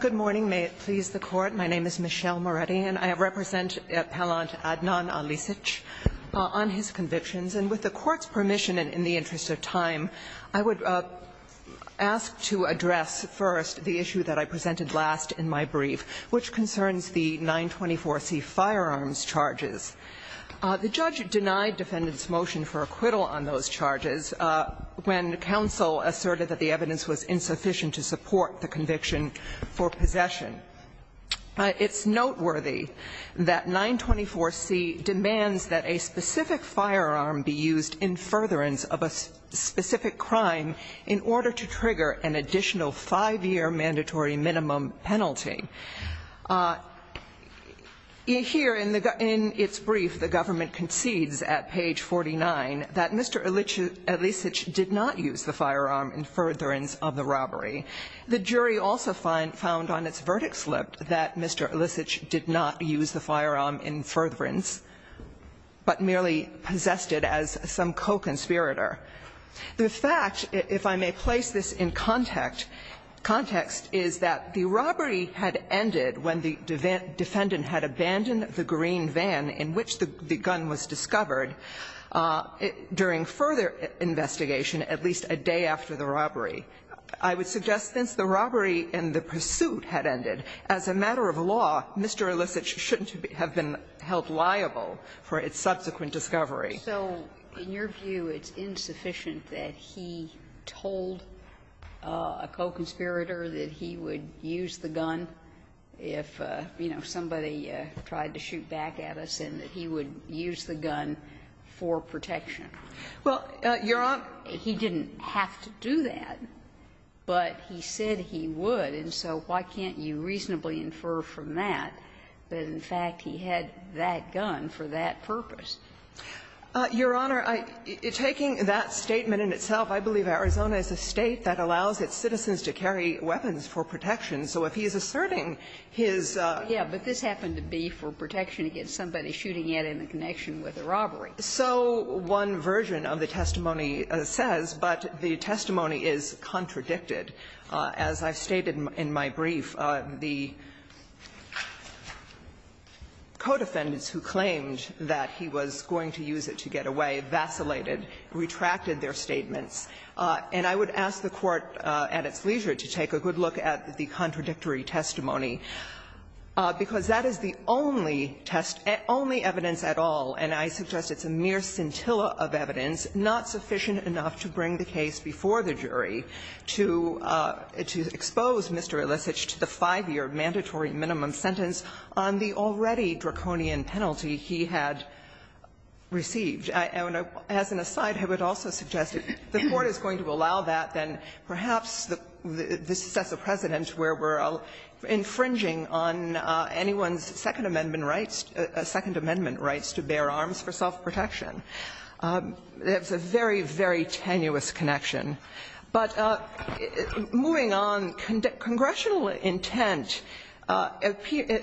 Good morning. May it please the Court. My name is Michelle Moretti, and I represent Appellant Adnan Alisic on his convictions. And with the Court's permission and in the interest of time, I would ask to address first the issue that I presented last in my brief, which concerns the 924C firearms charges. The judge denied defendants' motion for acquittal on those charges when counsel asserted that the evidence was insufficient to support the conviction for possession. It's noteworthy that 924C demands that a specific firearm be used in furtherance of a specific crime in order to trigger an additional five-year mandatory minimum penalty. Here in its brief, the government concedes at page 49 that Mr. Alisic did not use the firearm in furtherance of the robbery. The jury also found on its verdict slip that Mr. Alisic did not use the firearm in furtherance, but merely possessed it as some co-conspirator. The fact, if I may place this in context, is that the robbery had ended when the defendant had abandoned the green van in which the gun was discovered during further investigation at least a day after the robbery. I would suggest since the robbery and the pursuit had ended, as a matter of law, Mr. Alisic shouldn't have been held liable for its subsequent discovery. So in your view, it's insufficient that he told a co-conspirator that he would use the gun if, you know, somebody tried to shoot back at us, and that he would use the gun for protection? Well, Your Honor he didn't have to do that, but he said he would. And so why can't you reasonably infer from that that, in fact, he had that gun for that purpose? Your Honor, taking that statement in itself, I believe Arizona is a State that allows its citizens to carry weapons for protection. So if he is asserting his ---- Yes, but this happened to be for protection against somebody shooting at him in connection with a robbery. So one version of the testimony says, but the testimony is contradicted. As I stated in my brief, the co-defendants who claimed that he was going to use it to get away vacillated, retracted their statements. And I would ask the Court, at its leisure, to take a good look at the contradictory testimony, because that is the only test ---- only evidence at all, and I suggest it's a mere scintilla of evidence, not sufficient enough to bring the case before the jury to expose Mr. Illicich to the 5-year mandatory minimum sentence on the already draconian penalty he had received. And as an aside, I would also suggest if the Court is going to allow that, then perhaps this sets a precedent where we're infringing on anyone's Second Amendment rights, Second Amendment rights to bear arms for self-protection. It's a very, very tenuous connection. But moving on, congressional intent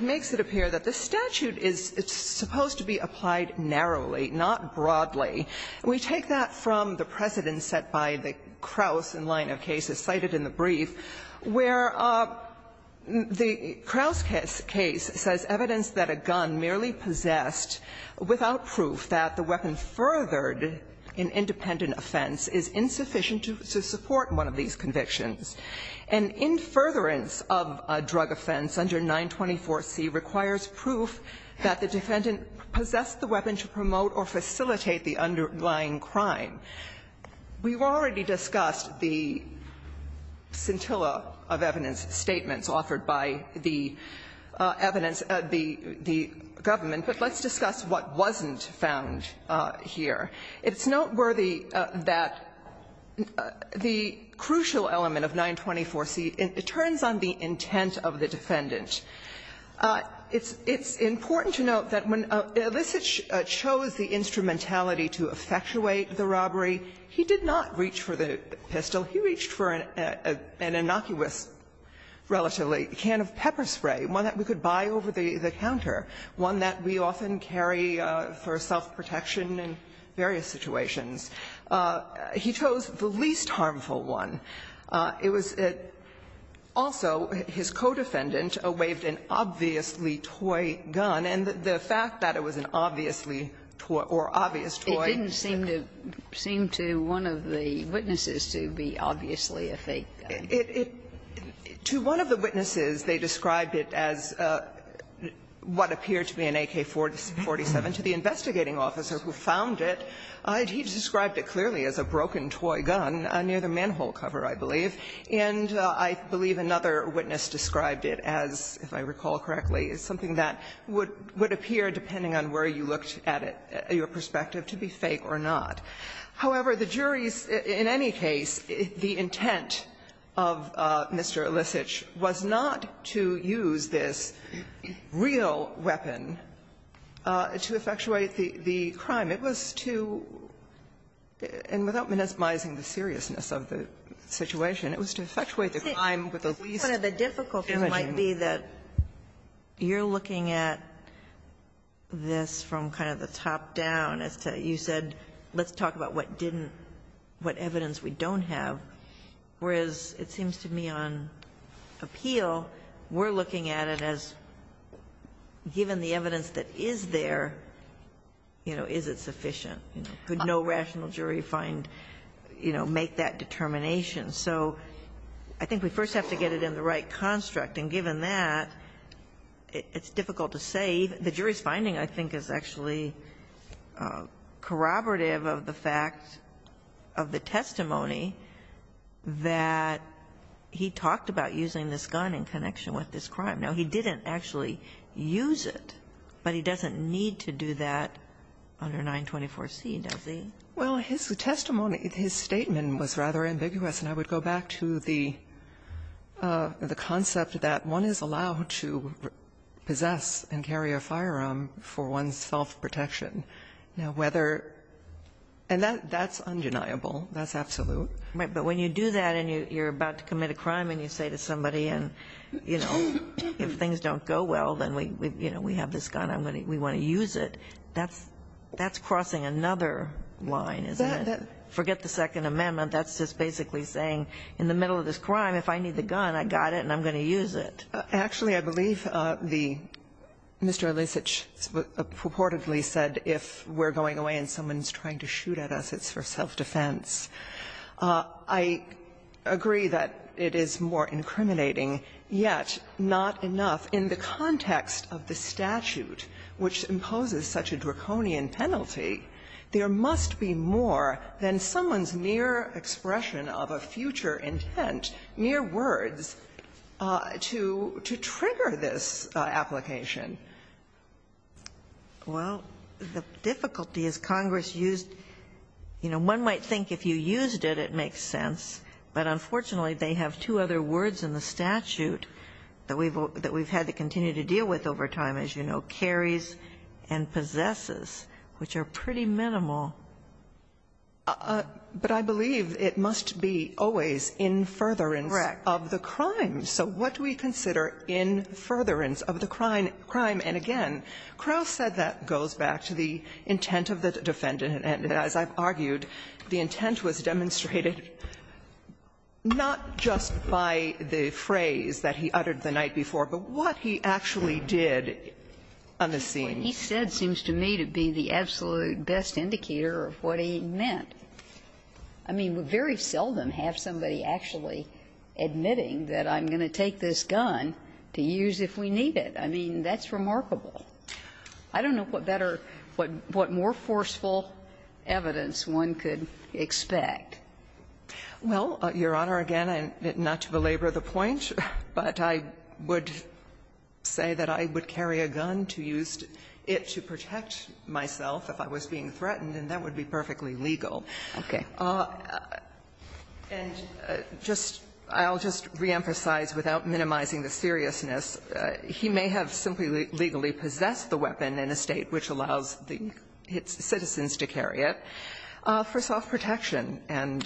makes it appear that the statute is supposed to be applied narrowly, not broadly. We take that from the precedent set by the Kraus in line of cases cited in the brief, where the Kraus case says evidence that a gun merely possessed without proof that the weapon furthered an independent offense is insufficient to support one of these convictions. An in-furtherance of a drug offense under 924C requires proof that the defendant possessed the weapon to promote or facilitate the underlying crime. We've already discussed the scintilla of evidence statements offered by the evidence of the government, but let's discuss what wasn't found here. It's noteworthy that the crucial element of 924C, it turns on the intent of the defendant. It's important to note that when Elisage chose the instrumentality to effectuate the robbery, he did not reach for the pistol. He reached for an innocuous, relatively, can of pepper spray, one that we could buy over the counter, one that we often carry for self-protection in various situations. He chose the least harmful one. It was also his co-defendant waived an obviously toy gun, and the fact that it was an obviously toy or obvious toy. It didn't seem to seem to one of the witnesses to be obviously a fake gun. It, to one of the witnesses, they described it as what appeared to be an AK-47. To the investigating officer who found it, he described it clearly as a broken toy gun near the manhole cover, I believe, and I believe another witness described it as, if I recall correctly, as something that would appear, depending on where you looked at it, your perspective, to be fake or not. However, the jury's, in any case, the intent of Mr. Elisage was not to use this real weapon to effectuate the crime. It was to, and without minimizing the seriousness of the situation, it was to effectuate the crime with the least damaging. Ginsburg. The difficulty might be that you're looking at this from kind of the top down, as to you said, let's talk about what didn't, what evidence we don't have, whereas it seems to me on appeal, we're looking at it as, given the evidence that is there, you know, is it sufficient? Could no rational jury find, you know, make that determination? So I think we first have to get it in the right construct, and given that, it's difficult to say. The jury's finding, I think, is actually corroborative of the fact of the testimony that he talked about using this gun in connection with this crime. Now, he didn't actually use it, but he doesn't need to do that under 924C, does he? Well, his testimony, his statement was rather ambiguous, and I would go back to the concept that one is allowed to possess and carry a firearm for one's self-protection. Now, whether, and that's undeniable, that's absolute. Right, but when you do that, and you're about to commit a crime, and you say to somebody and, you know, if things don't go well, then we, you know, we have this gun, I'm going to, we want to use it, that's, that's crossing another line, isn't it? Forget the Second Amendment, that's just basically saying, in the middle of this crime, if I need the gun, I got it and I'm going to use it. Actually, I believe the, Mr. Elisich purportedly said, if we're going away and someone is trying to shoot at us, it's for self-defense. I agree that it is more incriminating, yet not enough in the context of the statute, which imposes such a draconian penalty. There must be more than someone's mere expression of a future intent, mere words, to, to trigger this application. Well, the difficulty is Congress used, you know, one might think if you used it, it makes sense, but unfortunately, they have two other words in the statute that we've had to continue to deal with over time, as you know, carries and possesses, which are pretty minimal. But I believe it must be always in furtherance of the crime. Correct. So what do we consider in furtherance of the crime? And again, Crowe said that goes back to the intent of the defendant. And as I've argued, the intent was demonstrated not just by the phrase that he uttered the night before, but what he actually did on the scene. What he said seems to me to be the absolute best indicator of what he meant. I mean, we very seldom have somebody actually admitting that I'm going to take this gun to use if we need it. I mean, that's remarkable. I don't know what better, what more forceful evidence one could expect. Well, Your Honor, again, not to belabor the point, but I would say that I would carry a gun to use it to protect myself if I was being threatened, and that would be perfectly legal. Okay. And just to reemphasize, without minimizing the seriousness, he may have simply legally possessed the weapon in a State which allows its citizens to carry it for self-protection. And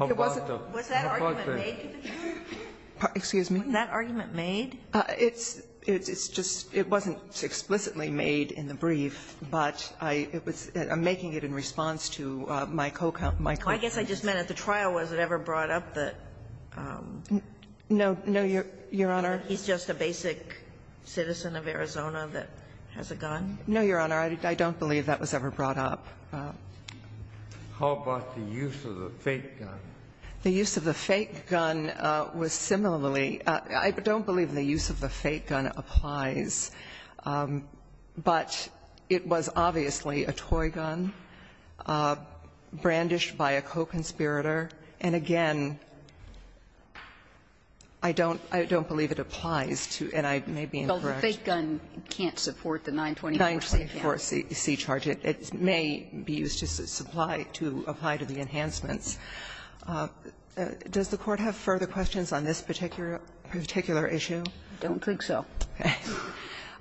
it wasn't that argument made? But I'm making it in response to my co-counsel. I guess I just meant at the trial, was it ever brought up that he's just a basic citizen of Arizona that has a gun? No, Your Honor, I don't believe that was ever brought up. How about the use of the fake gun? The use of the fake gun was similarly – I don't believe the use of the fake gun applies, but it was obviously a toy gun, brandished by a co-conspirator. And again, I don't believe it applies to – and I may be incorrect. Well, the fake gun can't support the 924C charge. 924C charge. It may be used to supply – to apply to the enhancements. Does the Court have further questions on this particular issue? I don't think so.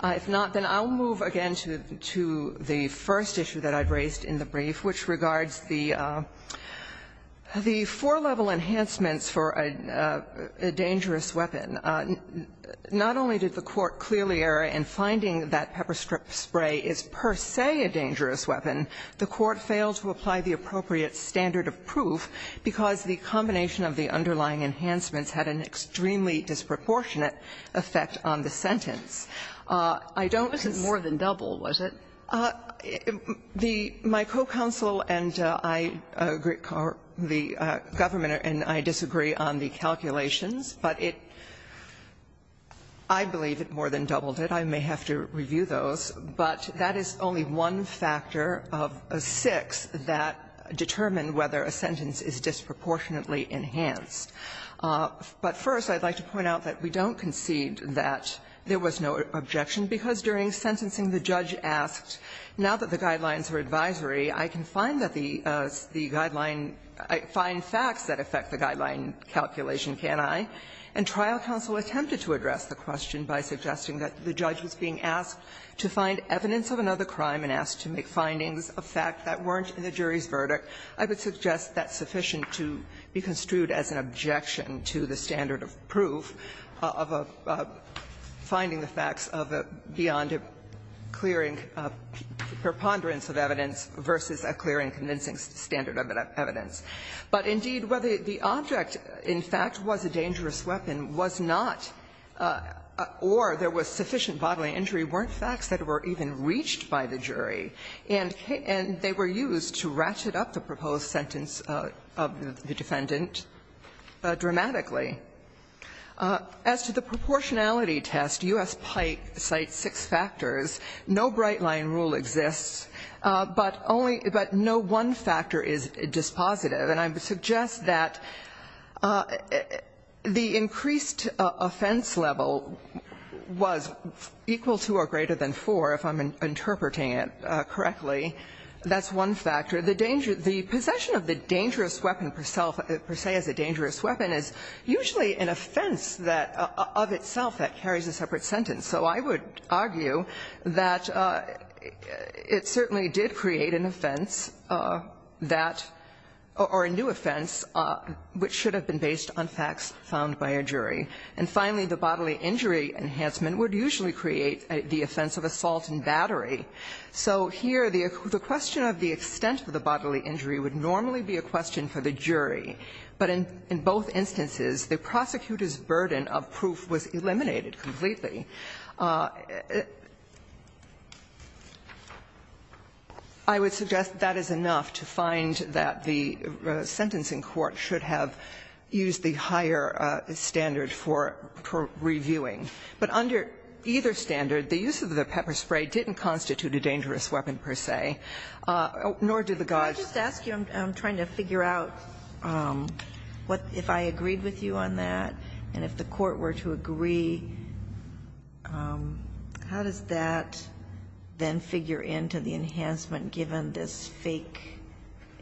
If not, then I'll move again to the first issue that I've raised in the brief, which regards the four-level enhancements for a dangerous weapon. Not only did the Court clearly err in finding that pepper spray is per se a dangerous weapon, the Court failed to apply the appropriate standard of proof because the combination of the underlying enhancements had an extremely disproportionate effect on the sentence. I don't think it's more than double, was it? The – my co-counsel and I – the government and I disagree on the calculations, but it – I believe it more than doubled it. I may have to review those. But that is only one factor of six that determine whether a sentence is disproportionately enhanced. But first, I'd like to point out that we don't concede that there was no objection, because during sentencing the judge asked, now that the guidelines are advisory, I can find that the guideline – find facts that affect the guideline calculation, can't I? And trial counsel attempted to address the question by suggesting that the judge was being asked to find evidence of another crime and asked to make findings of fact that weren't in the jury's verdict. I would suggest that's sufficient to be construed as an objection to the standard of proof of a – finding the facts of a beyond a clear and preponderance of evidence versus a clear and convincing standard of evidence. But indeed, whether the object in fact was a dangerous weapon was not, or there was sufficient bodily injury, weren't facts that were even reached by the jury. And they were used to ratchet up the proposed sentence of the defendant dramatically. As to the proportionality test, U.S. Pipe cites six factors. No bright-line rule exists, but only – but no one factor is dispositive. And I would suggest that the increased offense level was equal to or greater than four, if I'm interpreting it correctly. That's one factor. The danger – the possession of the dangerous weapon per se as a dangerous weapon is usually an offense that – of itself that carries a separate sentence. So I would argue that it certainly did create an offense that – or a new offense And finally, the bodily injury enhancement would usually create the offense of assault and battery. So here, the question of the extent of the bodily injury would normally be a question for the jury. But in both instances, the prosecutor's burden of proof was eliminated completely. I would suggest that is enough to find that the sentencing court should have used the higher standard for reviewing. But under either standard, the use of the pepper spray didn't constitute a dangerous weapon per se, nor did the gauge. Sotomayor, I just ask you, I'm trying to figure out what – if I agreed with you on that, and if the Court were to agree, how does that then figure into the enhancement given this fake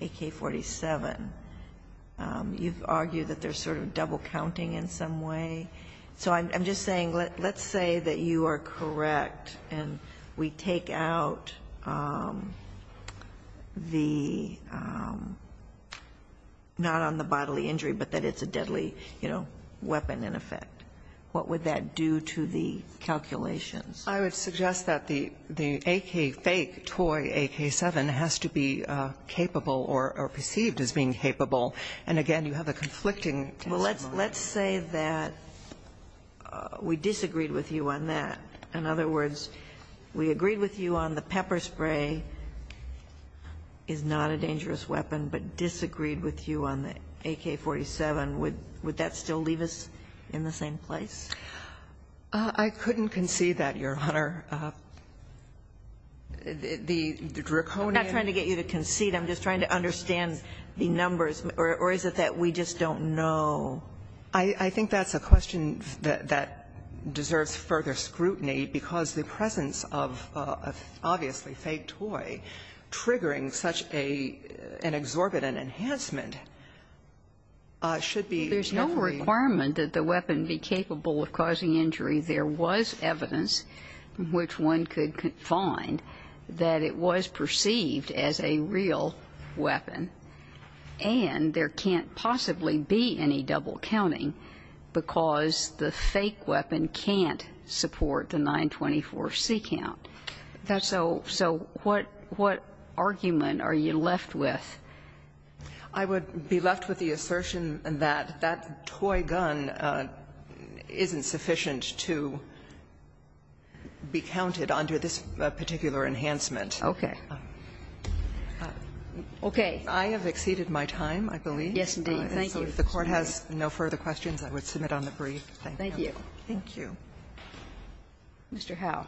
AK-47? You've argued that there's sort of double counting in some way. So I'm just saying, let's say that you are correct and we take out the – not on the bodily injury, but that it's a deadly, you know, weapon in effect. What would that do to the calculations? I would suggest that the AK fake toy AK-7 has to be capable or perceived as being capable. And again, you have a conflicting testimony. Well, let's say that we disagreed with you on that. In other words, we agreed with you on the pepper spray is not a dangerous weapon, but disagreed with you on the AK-47. Would that still leave us in the same place? I couldn't concede that, Your Honor. The draconian – I'm not trying to get you to concede. I'm just trying to understand the numbers. Or is it that we just don't know? I think that's a question that deserves further scrutiny, because the presence of an obviously fake toy triggering such an exorbitant enhancement should be There's no requirement that the weapon be capable of causing injury. There was evidence which one could find that it was perceived as a real weapon. And there can't possibly be any double counting because the fake weapon can't support the 924C count. That's so – so what – what argument are you left with? I would be left with the assertion that that toy gun isn't sufficient to be counted under this particular enhancement. Okay. Okay. I have exceeded my time, I believe. Yes, indeed. Thank you. If the Court has no further questions, I would submit on the brief. Thank you. Thank you. Mr. Howe. Mr. Howe?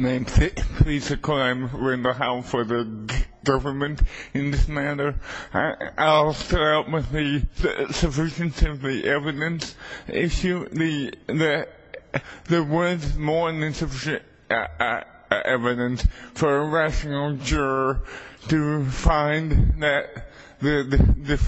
Name's Hick. I'm the Chief Justice of the U.S. Department of Justice, and I'm here on behalf of the U.S. Department of Justice, and I'm here on behalf of the U.S. Department of Justice, he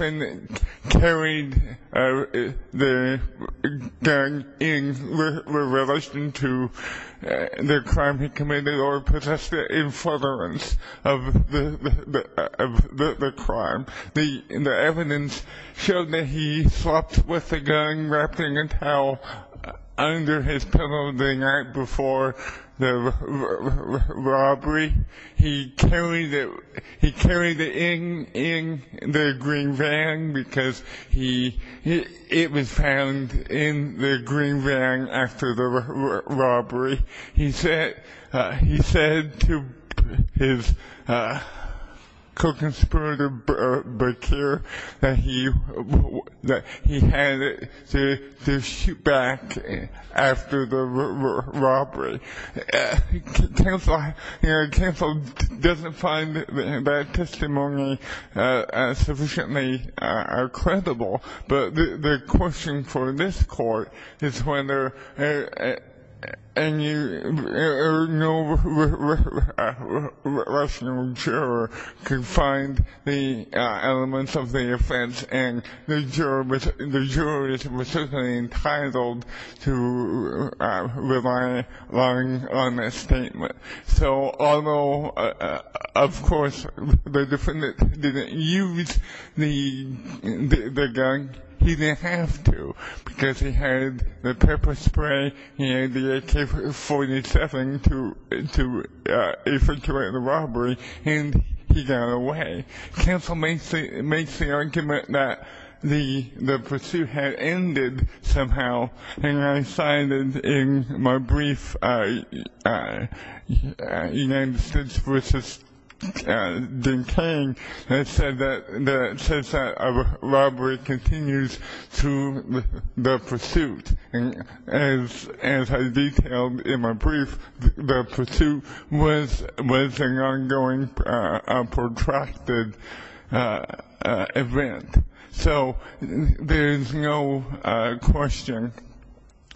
said to his co-conspirator, Bakir, that he had to shoot back after the robbery. Counsel doesn't find that testimony sufficiently credible, but the question for this court is whether any rational juror can find the elements of the offense, and the juror is specifically entitled to rely on a statement. So although, of course, the defendant didn't use the gun, he didn't have to, because he had the pepper spray and the AK-47 to infiltrate the robbery, and he got away. Counsel makes the United States v. D.K. has said that since that robbery continues through the pursuit, as I detailed in my brief, the pursuit was an ongoing, protracted event. So there is no question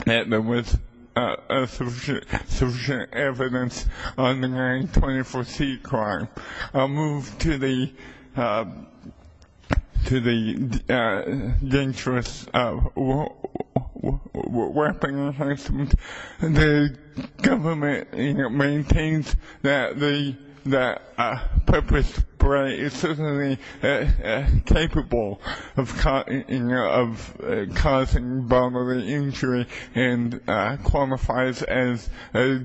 that there was sufficient evidence on the 924c crime. I'll move to the dangerous weapon harassment. The government maintains that the pepper spray is certainly capable of causing bodily injury and qualifies as a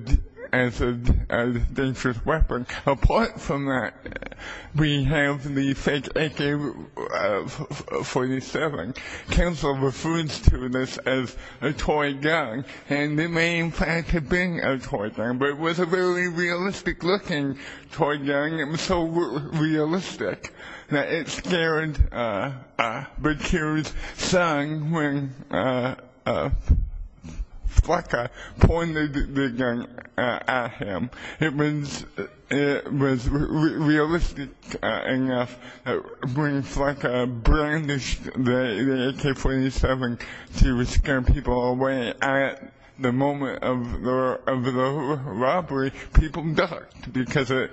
dangerous weapon. Apart from that, we have the fake AK-47. Counsel refers to this as a toy gun, and it may in fact have been a toy gun, but it was a very Flacka pointed the gun at him. It was realistic enough when Flacka brandished the AK-47 to scare people away. At the moment of the robbery, people ducked because it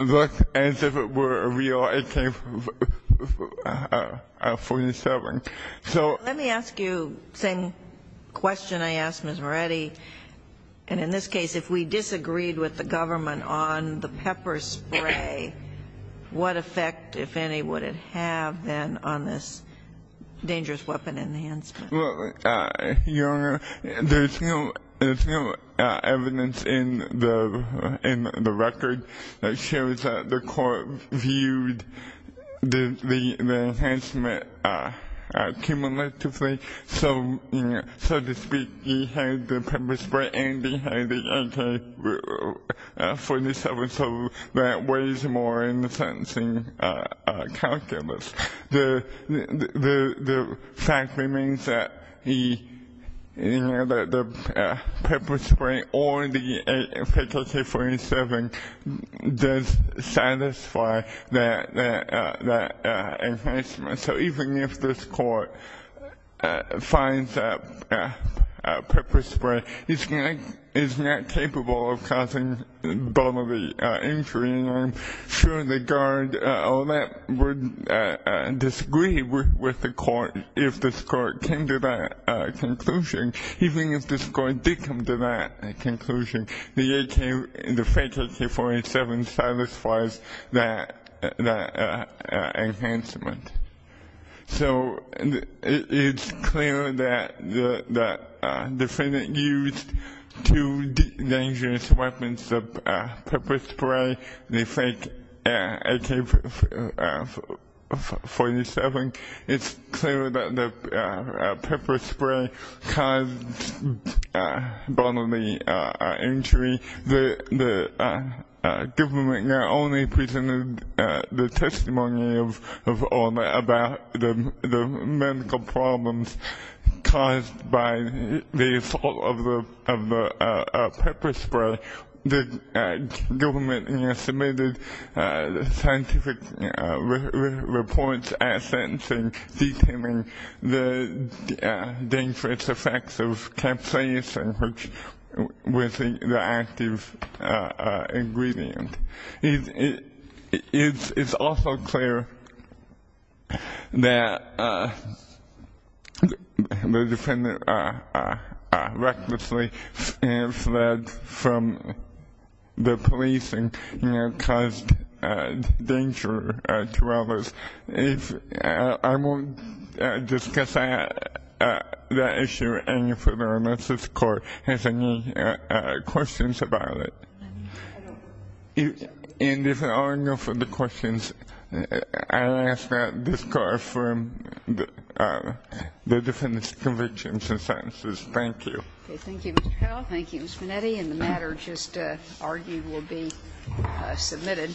looked as if it were a real AK-47. Let me ask you the same question I asked Ms. Moretti. And in this case, if we disagreed with the government on the pepper spray, what effect, if any, would it have then on this dangerous weapon enhancement? Your Honor, there's no evidence in the record that shows that the court viewed the enhancement cumulatively. So to speak, he had the pepper spray and he had the AK-47, so that weighs more in the that the pepper spray or the fake AK-47 does satisfy that enhancement. So even if this court finds that pepper spray, it's not capable of causing bodily injury. And I'm sure the guard would disagree with the court if this court came to that conclusion. Even if this court did come to that conclusion, the fake AK-47 satisfies that enhancement. So it's clear that the defendant used two dangerous weapons the pepper spray, the fake AK-47. It's clear that the pepper spray caused bodily injury. The government not only presented the testimony of all about the medical problems caused by the assault of the pepper spray, the government submitted scientific reports at sentencing detailing the dangerous effects of It's also clear that the defendant recklessly fled from the police and caused danger to others. I won't discuss that issue any further unless this court has any questions about it. And if there are no further questions, I'll ask that this court affirm the defendant's convictions and sentences. Thank you. Okay, thank you, Mr. Powell. Thank you, Ms. Minetti. And the matter just argued will be submitted.